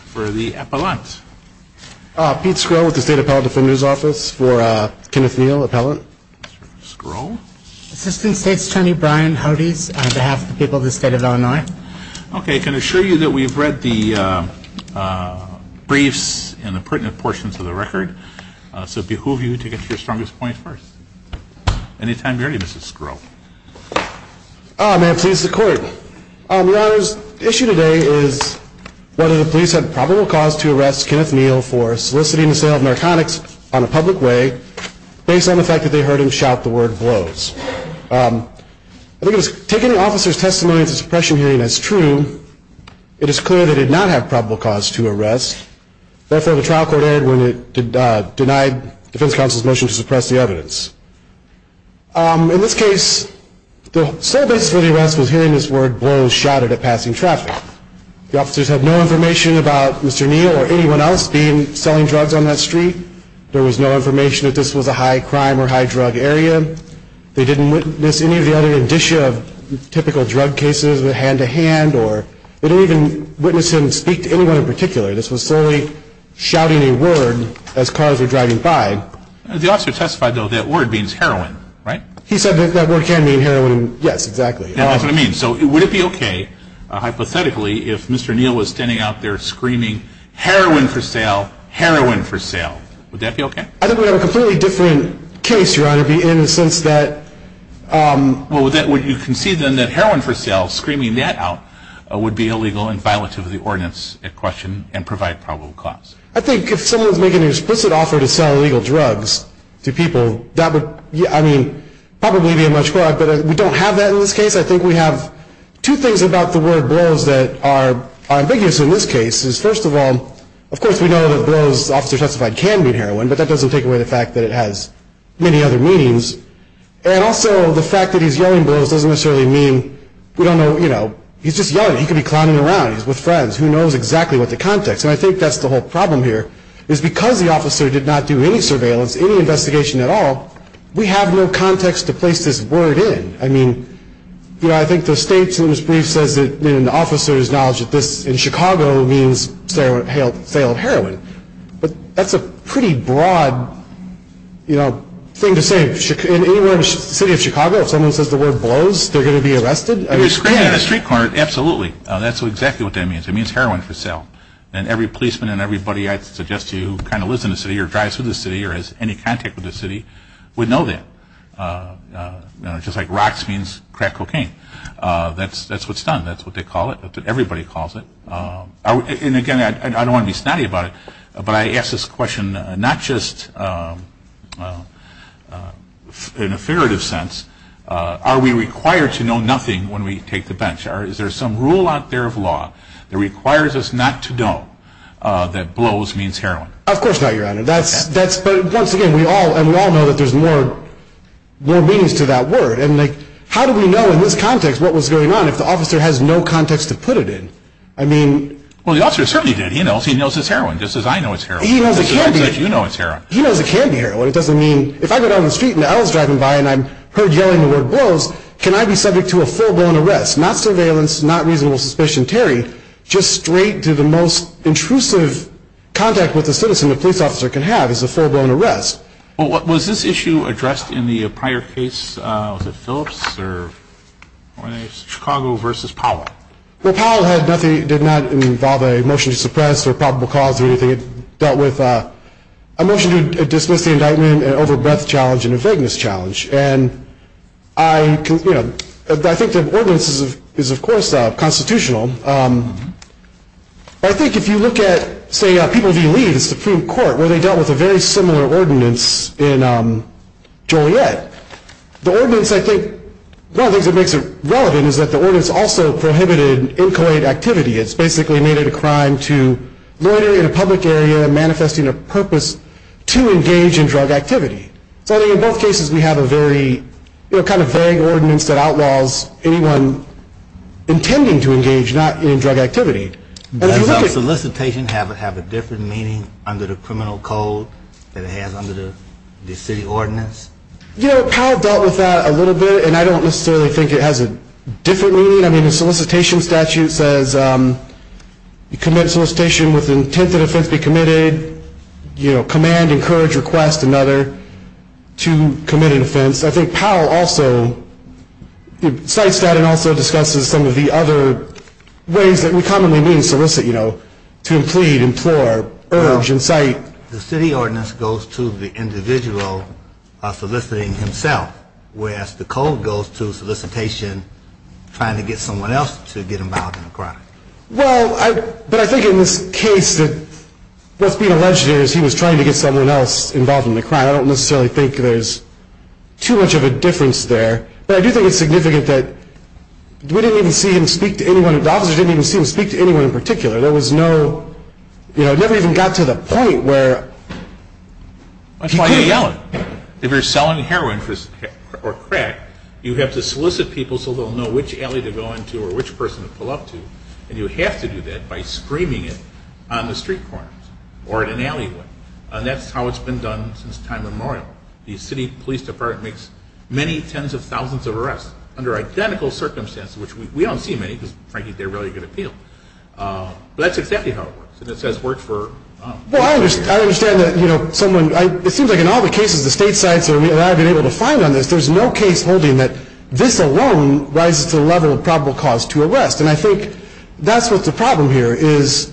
for the appellant Pete Skrill with the State Appellate Defender's Office for Kenneth Neal, appellant Skrill? Assistant State Attorney Brian Hodes on behalf of the people of the state of Illinois. Okay, I can assure you that we've read the briefs and the pertinent portions of the record, so behoove you to get to your strongest point first. Any time you're ready, Mr. Skrill. May it please the court. The honor's issue today is whether the police had probable cause to arrest Kenneth Neal for soliciting the sale of narcotics on a public way based on the fact that they heard him shout the word blows. I think it was taken in the officer's testimony at the suppression hearing as true, it is clear they did not have probable cause to arrest. Therefore, the trial court erred when it denied defense counsel's motion to suppress the evidence. In this case, the sole basis for the arrest was hearing this word blows shouted at passing traffic. The officers had no information about Mr. Neal or anyone else selling drugs on that street. There was no information that this was a high crime or high drug area. They didn't witness any of the other indicia of typical drug cases with hand-to-hand, or they didn't even witness him speak to anyone in particular. This was solely shouting a word as cars were driving by. The officer testified, though, that word means heroin, right? He said that that word can mean heroin. Yes, exactly. That's what it means. So would it be okay, hypothetically, if Mr. Neal was standing out there screaming, heroin for sale, heroin for sale. Would that be okay? I think we have a completely different case, Your Honor, in the sense that... Well, would you concede then that heroin for sale, screaming that out, would be illegal and violative of the ordinance at question and provide probable cause? I think if someone was making an explicit offer to sell illegal drugs to people, that would, I mean, probably be a much more... But we don't have that in this case. I think we have two things about the word blows that are ambiguous in this case. First of all, of course, we know that blows, the officer testified, can mean heroin, but that doesn't take away the fact that it has many other meanings. And also, the fact that he's yelling blows doesn't necessarily mean we don't know, you know, he's just yelling. He could be clowning around. He's with friends. Who knows exactly what the context? And I think that's the whole problem here, is because the officer did not do any surveillance, any investigation at all, we have no context to place this word in. I mean, you know, I think the state's brief says that an officer's knowledge of this in Chicago means sale of heroin. But that's a pretty broad, you know, thing to say. In any city of Chicago, if someone says the word blows, they're going to be arrested? You're screaming in the street corner, absolutely. That's exactly what that means. It means heroin for sale. And every policeman and everybody I'd suggest to you who kind of lives in the city or drives through the city or has any contact with the city would know that. You know, just like rocks means crack cocaine. That's what's done. That's what they call it. Everybody calls it. And again, I don't want to be snotty about it, but I ask this question not just in a figurative sense, are we required to know nothing about the word blows when we take the bench? Or is there some rule out there of law that requires us not to know that blows means heroin? Of course not, Your Honor. But once again, we all know that there's more meanings to that word. And how do we know in this context what was going on if the officer has no context to put it in? I mean... Well, the officer certainly did. He knows it's heroin, just as I know it's heroin. He knows it can be heroin. He knows it can be heroin. It doesn't mean... If I go down the street and an L is driving by and I'm heard yelling the word blows, can I be subject to a full-blown arrest? Not surveillance, not reasonable suspicion. Terry, just straight to the most intrusive contact with a citizen a police officer can have is a full-blown arrest. Was this issue addressed in the prior case, was it Phillips or was it Chicago v. Powell? Well, Powell did not involve a motion to suppress or probable cause or anything. It dealt with a motion to dismiss the indictment, an overbreath challenge, and a vagueness challenge. And I think the ordinance is, of course, constitutional. But I think if you look at, say, People v. Lee, the Supreme Court, where they dealt with a very similar ordinance in Joliet, the ordinance I think... One of the things that makes it relevant is that the ordinance also prohibited inchoate activity. It's basically made it a crime to loiter in a public area manifesting a purpose to engage in drug activity. So I think in both cases we have a very, you know, kind of vague ordinance that outlaws anyone intending to engage not in drug activity. Does solicitation have a different meaning under the criminal code than it has under the city ordinance? You know, Powell dealt with that a little bit and I don't necessarily think it has a different meaning. I mean, the solicitation statute says you commit solicitation with the intent that offense be committed, you know, command, encourage, request another to commit an offense. I think Powell also cites that and also discusses some of the other ways that we commonly mean solicit, you know, to plead, implore, urge, incite. The city ordinance goes to the individual soliciting himself, whereas the code goes to solicitation trying to get someone else to get involved in a crime. Well, but I think in this case that what's being alleged here is he was trying to get someone else involved in a crime. I don't necessarily think there's too much of a difference there. But I do think it's significant that we didn't even see him speak to anyone. The officer didn't even see him speak to anyone in particular. There was no, you know, it never even got to the point where people If you're selling heroin or crack, you have to solicit people so they'll know which alley to go into or which person to pull up to. And you have to do that by screaming it on the street corners or in an alleyway. And that's how it's been done since time immemorial. The city police department makes many tens of thousands of arrests under identical circumstances, which we don't see many because frankly, they're really good appeal. But that's exactly how it works. And it says work for Well, I understand that, you know, someone, it seems like in all the cases the state sites on this, there's no case holding that this alone rises to the level of probable cause to arrest. And I think that's what the problem here is.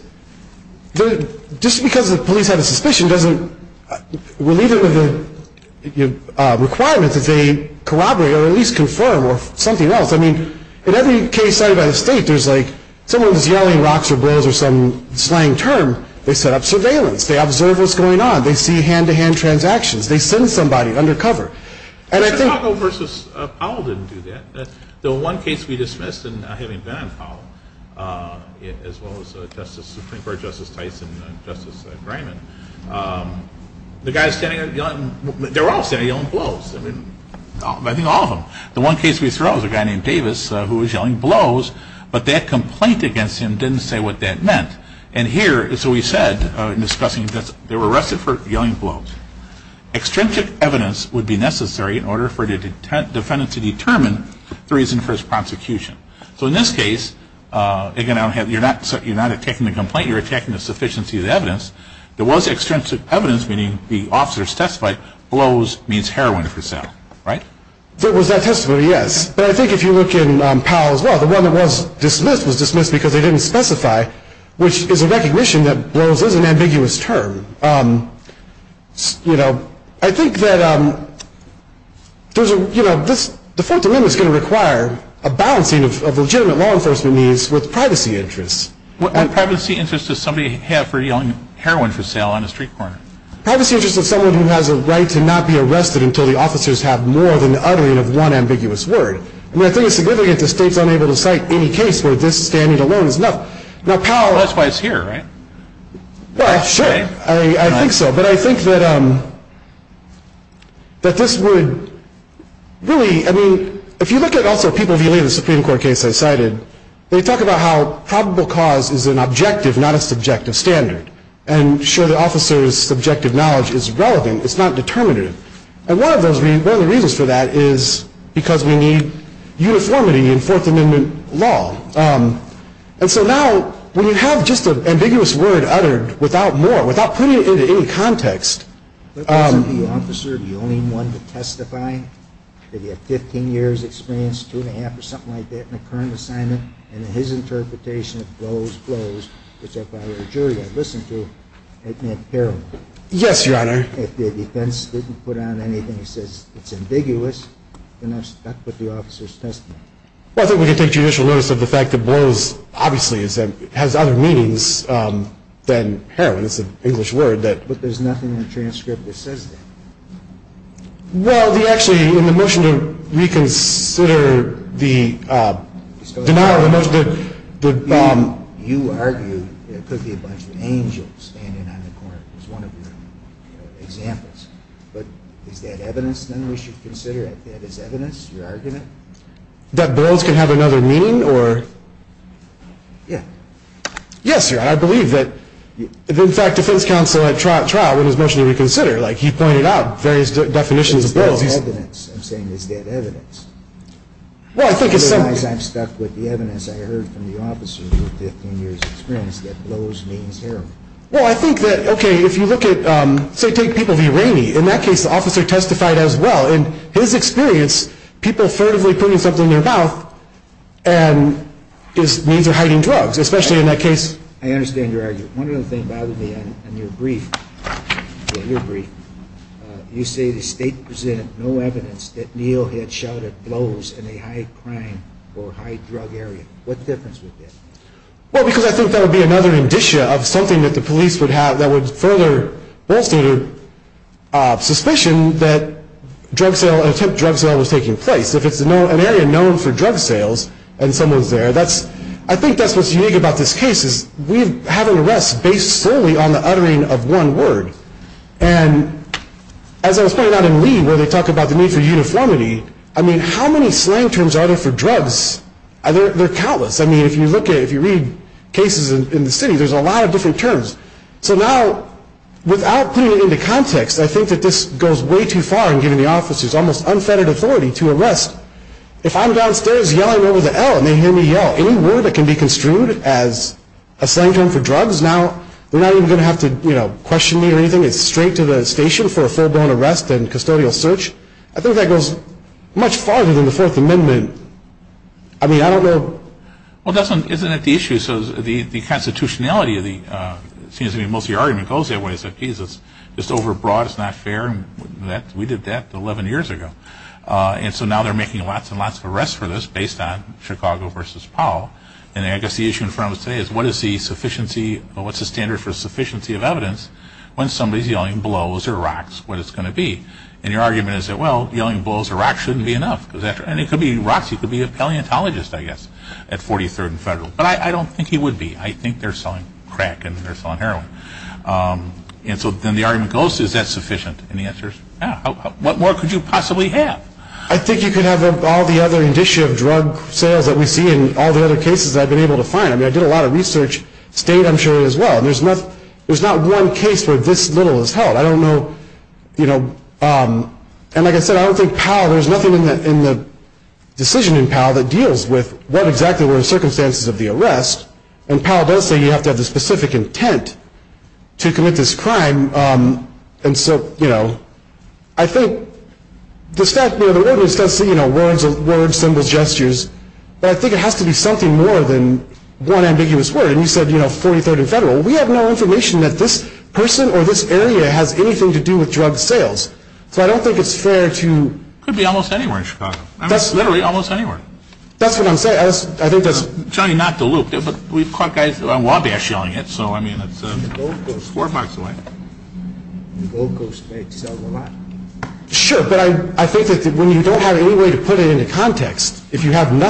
Just because the police have a suspicion doesn't relieve them of the requirements that they corroborate or at least confirm or something else. I mean, in every case cited by the state, there's like someone's yelling rocks or blows or some slang term. They set up surveillance. They observe what's going on. They see hand-to-hand transactions. They send somebody undercover. Chicago v. Powell didn't do that. The one case we dismissed, and I haven't been on Powell, as well as Supreme Court Justice Tice and Justice Greiman, they were all standing yelling blows. I mean, I think all of them. The one case we threw out was a guy named Davis who was yelling blows, but that complaint against him didn't say what that meant. And here, so we said in discussing this, they were arrested for yelling blows. Extrinsic evidence would be necessary in order for the defendant to determine the reason for his prosecution. So in this case, again, you're not attacking the complaint. You're attacking the sufficiency of the evidence. There was extrinsic evidence, meaning the officers testified blows means heroin for sale, right? There was that testimony, yes. But I think if you look in Powell, as well, the one that was dismissed was dismissed because they didn't specify, which is a recognition that blows is an ambiguous term. You know, I think that there's a, you know, this, the Fourth Amendment is going to require a balancing of legitimate law enforcement needs with privacy interests. What privacy interests does somebody have for yelling heroin for sale on a street corner? Privacy interests of someone who has a right to not be arrested until the officers have more than the uttering of one ambiguous word. I mean, I think it's significant that states aren't able to cite any case where this standing alone is enough. That's why it's here, right? Well, sure. I think so. But I think that, um, that this would really, I mean, if you look at also people who believe the Supreme Court case I cited, they talk about how probable cause is an objective, not a subjective standard. And sure, the officer's subjective knowledge is relevant. It's not determinative. And one of those, one of the reasons for that is because we need uniformity in Fourth Amendment law. Um, and so now when you have just an ambiguous word uttered without more, without putting it into any context, um But wasn't the officer the only one to testify? Did he have 15 years experience, two and a half or something like that in a current assignment? And in his interpretation, it blows, blows, which if I were a jury I'd listen to, it meant heroin. Yes, Your Honor. If the defense didn't put on anything that says it's ambiguous, then that's, that's what the officer's testimony. Well, I think we can take judicial notice of the fact that blows, obviously, is, has other meanings, um, than heroin. It's an English word that But there's nothing in the transcript that says that. Well, the, actually, in the motion to reconsider the, um, denial of the motion, the, um You argued there could be a bunch of angels standing on the court, as one of your, um, examples. But is that evidence, then, we should consider, that that is evidence, your argument? That blows can have another meaning, or? Yeah. Yes, Your Honor, I believe that, in fact, defense counsel at trial, in his motion to reconsider, like, he pointed out various definitions of blows. But is that evidence? I'm saying, is that evidence? Well, I think it's some Otherwise, I'm stuck with the evidence I heard from the officer for 15 years of experience that blows means heroin. Well, I think that, okay, if you look at, um, say, take people v. Rainey. In that case, the officer testified as well. In his experience, people furtively putting something in their mouth, and his means are hiding drugs, especially in that case. I understand your argument. One other thing bothered me on, on your brief. Yeah, your brief. Uh, you say the State presented no evidence that Neil had shouted blows in a high crime or high drug area. What's the difference with that? Well, because I think that would be another indicia of something that the police would have that would further bolster, uh, suspicion that drug sale, an attempt drug sale was taking place. If it's an area known for drug sales, and someone's there, that's, I think that's what's unique about this case, is we have an arrest based solely on the uttering of one word. And, as I was pointing out in Lee, where they talk about the need for uniformity, I mean, how many slang terms are there for drugs? They're, they're countless. I mean, if you look at, if you read cases in, in the city, there's a lot of different terms. So, now, without putting it into context, I think that this goes way too far in giving the officers almost unfettered authority to arrest. If I'm downstairs yelling over the L, and they hear me yell, any word that can be construed as a slang term for drugs, now, they're not even going to have to, you know, question me or anything. It's straight to the station for a full-blown arrest and custodial search. I think that goes much farther than the Fourth Amendment. I mean, I don't know. Well, that's not, isn't that the issue? So, the, the constitutionality of the, it seems to me, most of the argument goes that way. It's like, geez, it's just overbroad, it's not fair, and that, we did that 11 years ago. And, so, now, they're making lots and lots of arrests for this based on Chicago versus Powell. And, I guess, the issue in front of us today is, what is the sufficiency, or what's the standard for sufficiency of yelling blows or rocks, what it's going to be? And, your argument is that, well, yelling blows or rocks shouldn't be enough. And, it could be rocks, it could be a paleontologist, I guess, at 43rd and Federal. But, I don't think he would be. I think they're selling crack, and they're selling heroin. And, so, then, the argument goes, is that sufficient? And, the answer is, yeah. What more could you possibly have? I think you could have all the other indicia of drug sales that we see, and all the other cases that I've been able to find. I mean, I did a lot of research, state, I'm sure, as well. And, there's not one case where this little is held. I don't know, you know, and, like I said, I don't think Powell, there's nothing in the decision in Powell that deals with what exactly were the circumstances of the arrest. And, Powell does say you have to have the specific intent to commit this crime. And, so, you know, I think, you know, the ordinance does say, you know, words, symbols, gestures. But, I think it has to be something more than one ambiguous word. And, you said, you know, 43rd and Federal. We have no information that this person or this area has anything to do with drug sales. So, I don't think it's fair to... It could be almost anywhere in Chicago. I mean, literally, almost anywhere. That's what I'm saying. I think that's... I'm telling you not to loop. But, we've caught guys on Wabash yelling it. So, I mean, it's four blocks away. Gold Coast may sell a lot. Sure. But, I think that when you don't have any way to put it into context, if you have any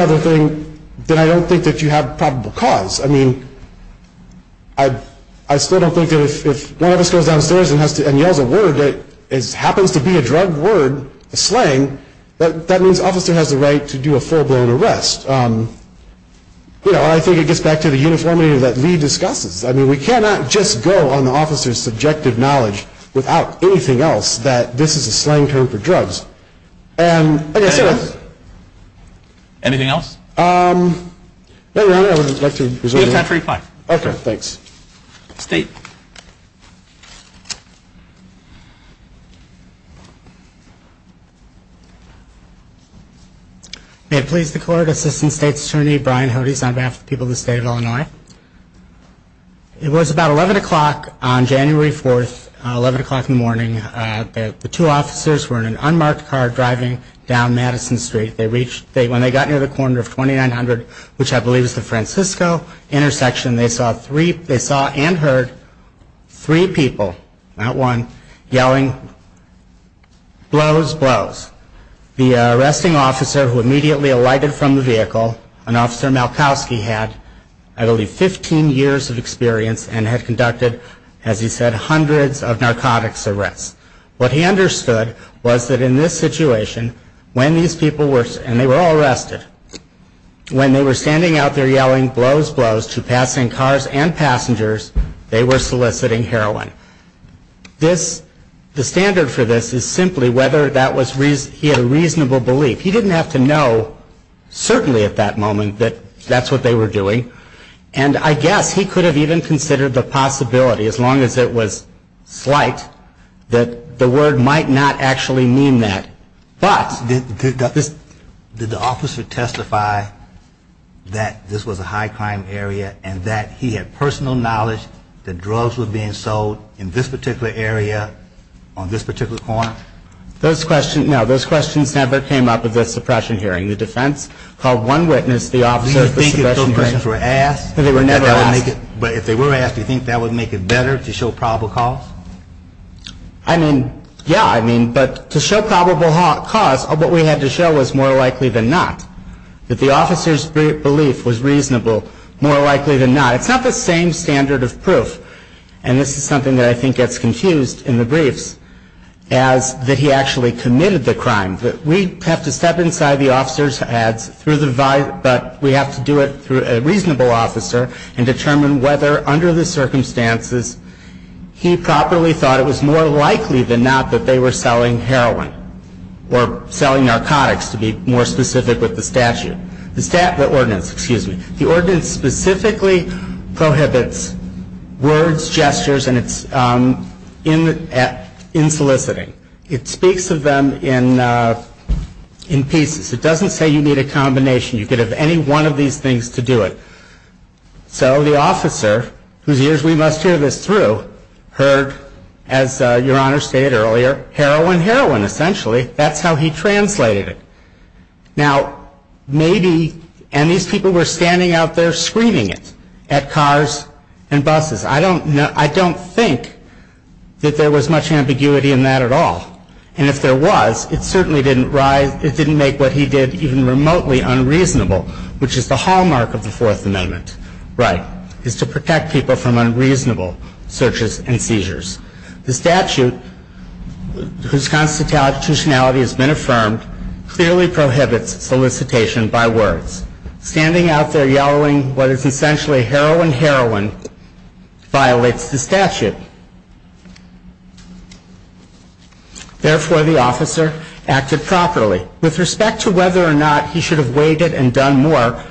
other thing, then I don't think that you have probable cause. I mean, I still don't think that if one of us goes downstairs and yells a word that happens to be a drug word, a slang, that means the officer has the right to do a full-blown arrest. You know, I think it gets back to the uniformity that Lee discusses. I mean, we cannot just go on the officer's subjective knowledge without anything else that this is a slang term for drugs. Anything else? No, Your Honor. I would like to... You have time for reply. Okay. Thanks. State. May it please the Court, Assistant State's Attorney Brian Hodes on behalf of the people of the State of Illinois. It was about 11 o'clock on January 4th, 11 o'clock in the morning. The two officers were in an unmarked car driving down Madison Street. When they got near the corner of 2900, which I believe is the Francisco intersection, they saw and heard three people, not one, yelling, blows, blows. The arresting officer who immediately alighted from the vehicle, an officer Malkowski had, I believe, 15 years of experience and had conducted, as he said, hundreds of narcotics arrests. What he understood was that in this situation, when these people were, and they were all arrested, when they were standing out there yelling blows, blows to passing cars and passengers, they were soliciting heroin. This, the standard for this is simply whether that was, he had a reasonable belief. He didn't have to know, certainly at that moment, that that's what they were doing. And I guess he could have even considered the possibility, as long as it was slight, that the word might not actually mean that. But... Did the officer testify that this was a high crime area and that he had personal knowledge that drugs were being sold in this particular area on this particular corner? Those questions, no, those questions never came up at the suppression hearing. The defense called one witness to the suppression hearing. The questions were asked. They were never asked. But if they were asked, do you think that would make it better to show probable cause? I mean, yeah, I mean, but to show probable cause, what we had to show was more likely than not, that the officer's belief was reasonable, more likely than not. It's not the same standard of proof, and this is something that I think gets confused in the briefs, as that he actually committed the crime. We have to step inside the officer's heads, but we have to do it through a reasonable officer, and determine whether, under the circumstances, he properly thought it was more likely than not that they were selling heroin, or selling narcotics, to be more specific with the statute. The stat...the ordinance, excuse me. The ordinance specifically prohibits words, gestures, and its...insoliciting. It speaks of them in pieces. It doesn't say you need a combination. You could have any one of these things to do it. So the officer, whose ears we must hear this through, heard, as Your Honor stated earlier, heroin, heroin, essentially. That's how he translated it. Now, maybe...and these people were standing out there screaming it, at cars and buses. I don't know...I don't think that there was much ambiguity in that at all. And if there was, it certainly didn't rise...it didn't make what he did even remotely unreasonable, which is the hallmark of the Fourth Amendment right, is to protect people from unreasonable searches and seizures. The statute, whose constitutionality has been affirmed, clearly prohibits solicitation by words. Standing out there yelling what is essentially heroin, heroin, violates the statute. Therefore, the officer acted properly. With respect to whether or not he should have waited and done more,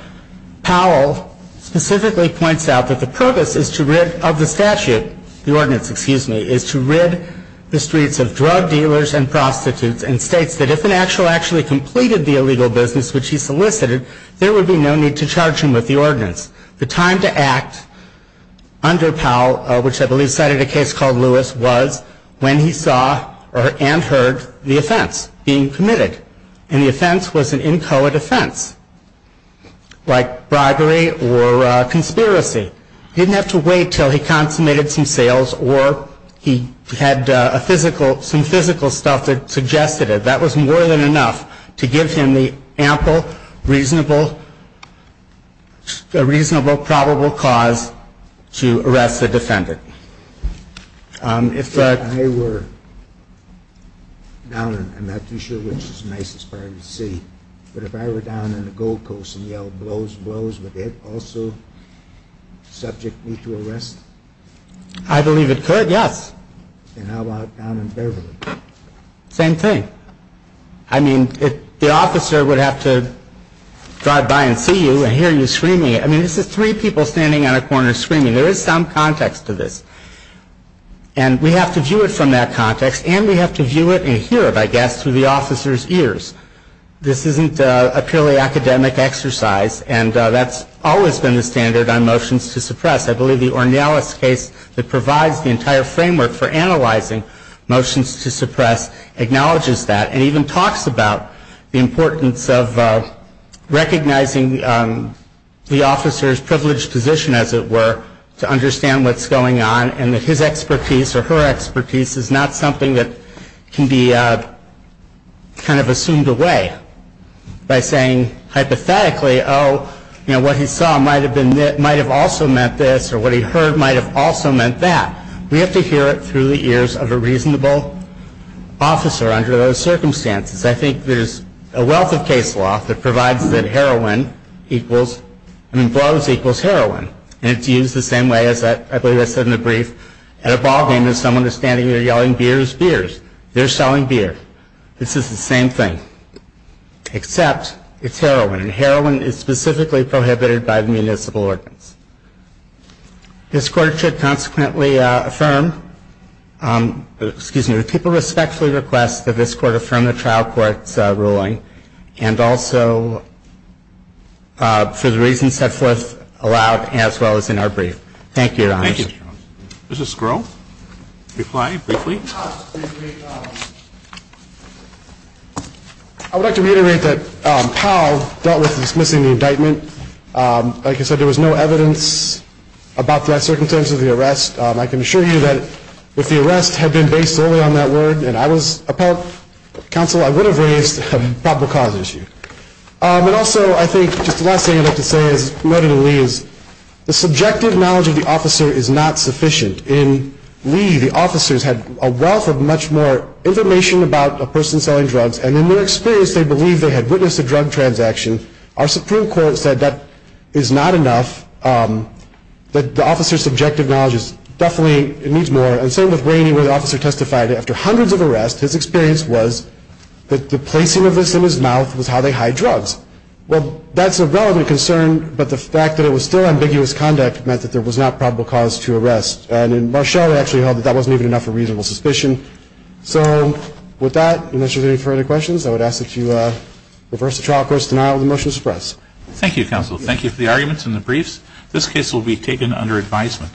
Powell specifically points out that the purpose of the statute, the ordinance, excuse me, is to rid the streets of drug dealers and prostitutes and states that if an actual actually completed the illegal business which he solicited, there would be no need to charge him with the ordinance. The time to act under Powell, which I believe cited a case called Lewis, was when he saw and heard the offense being committed. And the offense was an inchoate offense, like bribery or conspiracy. He didn't have to wait until he consummated some sales or he had some physical stuff that suggested it. That was more than enough to give him the ample, reasonable, probable cause to arrest the defendant. I'm not too sure which is the nicest part of the city. But if I were down in the Gold Coast and yelled blows, blows, would that also subject me to arrest? I believe it could, yes. And how about down in Beverly? Same thing. I mean, the officer would have to drive by and see you and hear you screaming. I mean, this is three people standing on a corner screaming. There is some context to this. And we have to view it from that context, and we have to view it and hear it, I guess, through the officer's ears. This isn't a purely academic exercise, and that's always been the standard on motions to suppress. I believe the Ornelas case that provides the entire framework for analyzing motions to suppress acknowledges that and even talks about the importance of recognizing the officer's privileged position, as it were, to understand what's going on and that his expertise or her expertise is not something that can be kind of assumed away by saying hypothetically, oh, what he saw might have also meant this or what he heard might have also meant that. We have to hear it through the ears of a reasonable officer under those circumstances. I think there's a wealth of case law that provides that heroin equals, I mean, blows equals heroin. And it's used the same way, as I believe I said in the brief, at a ball game as someone is standing there yelling, beers, beers. They're selling beer. This is the same thing, except it's heroin, and heroin is specifically prohibited by the municipal ordinance. This Court should consequently affirm, excuse me, would people respectfully request that this Court affirm the trial court's ruling and also for the reasons set forth aloud as well as in our brief. Thank you, Your Honors. Thank you, Mr. Jones. Mrs. Sgro? Reply briefly. I would like to reiterate that Powell dealt with dismissing the indictment. Like I said, there was no evidence about the circumstances of the arrest. I can assure you that if the arrest had been based solely on that word and I was a Powell counsel, I would have raised a probable cause issue. And also I think just the last thing I'd like to say, as noted in Lee, is the subjective knowledge of the officer is not sufficient. In Lee, the officers had a wealth of much more information about a person selling drugs, and in their experience they believed they had witnessed a drug transaction. Our Supreme Court said that is not enough, that the officer's subjective knowledge definitely needs more. And same with Rainey, where the officer testified after hundreds of arrests, his experience was that the placing of this in his mouth was how they hide drugs. Well, that's a relevant concern, but the fact that it was still ambiguous conduct meant that there was not probable cause to arrest. And in Marshall, they actually held that that wasn't even enough of a reasonable suspicion. So with that, unless you have any further questions, I would ask that you reverse the trial court's denial of the motion to suppress. Thank you, counsel. Thank you for the arguments and the briefs. This case will be taken under advisement.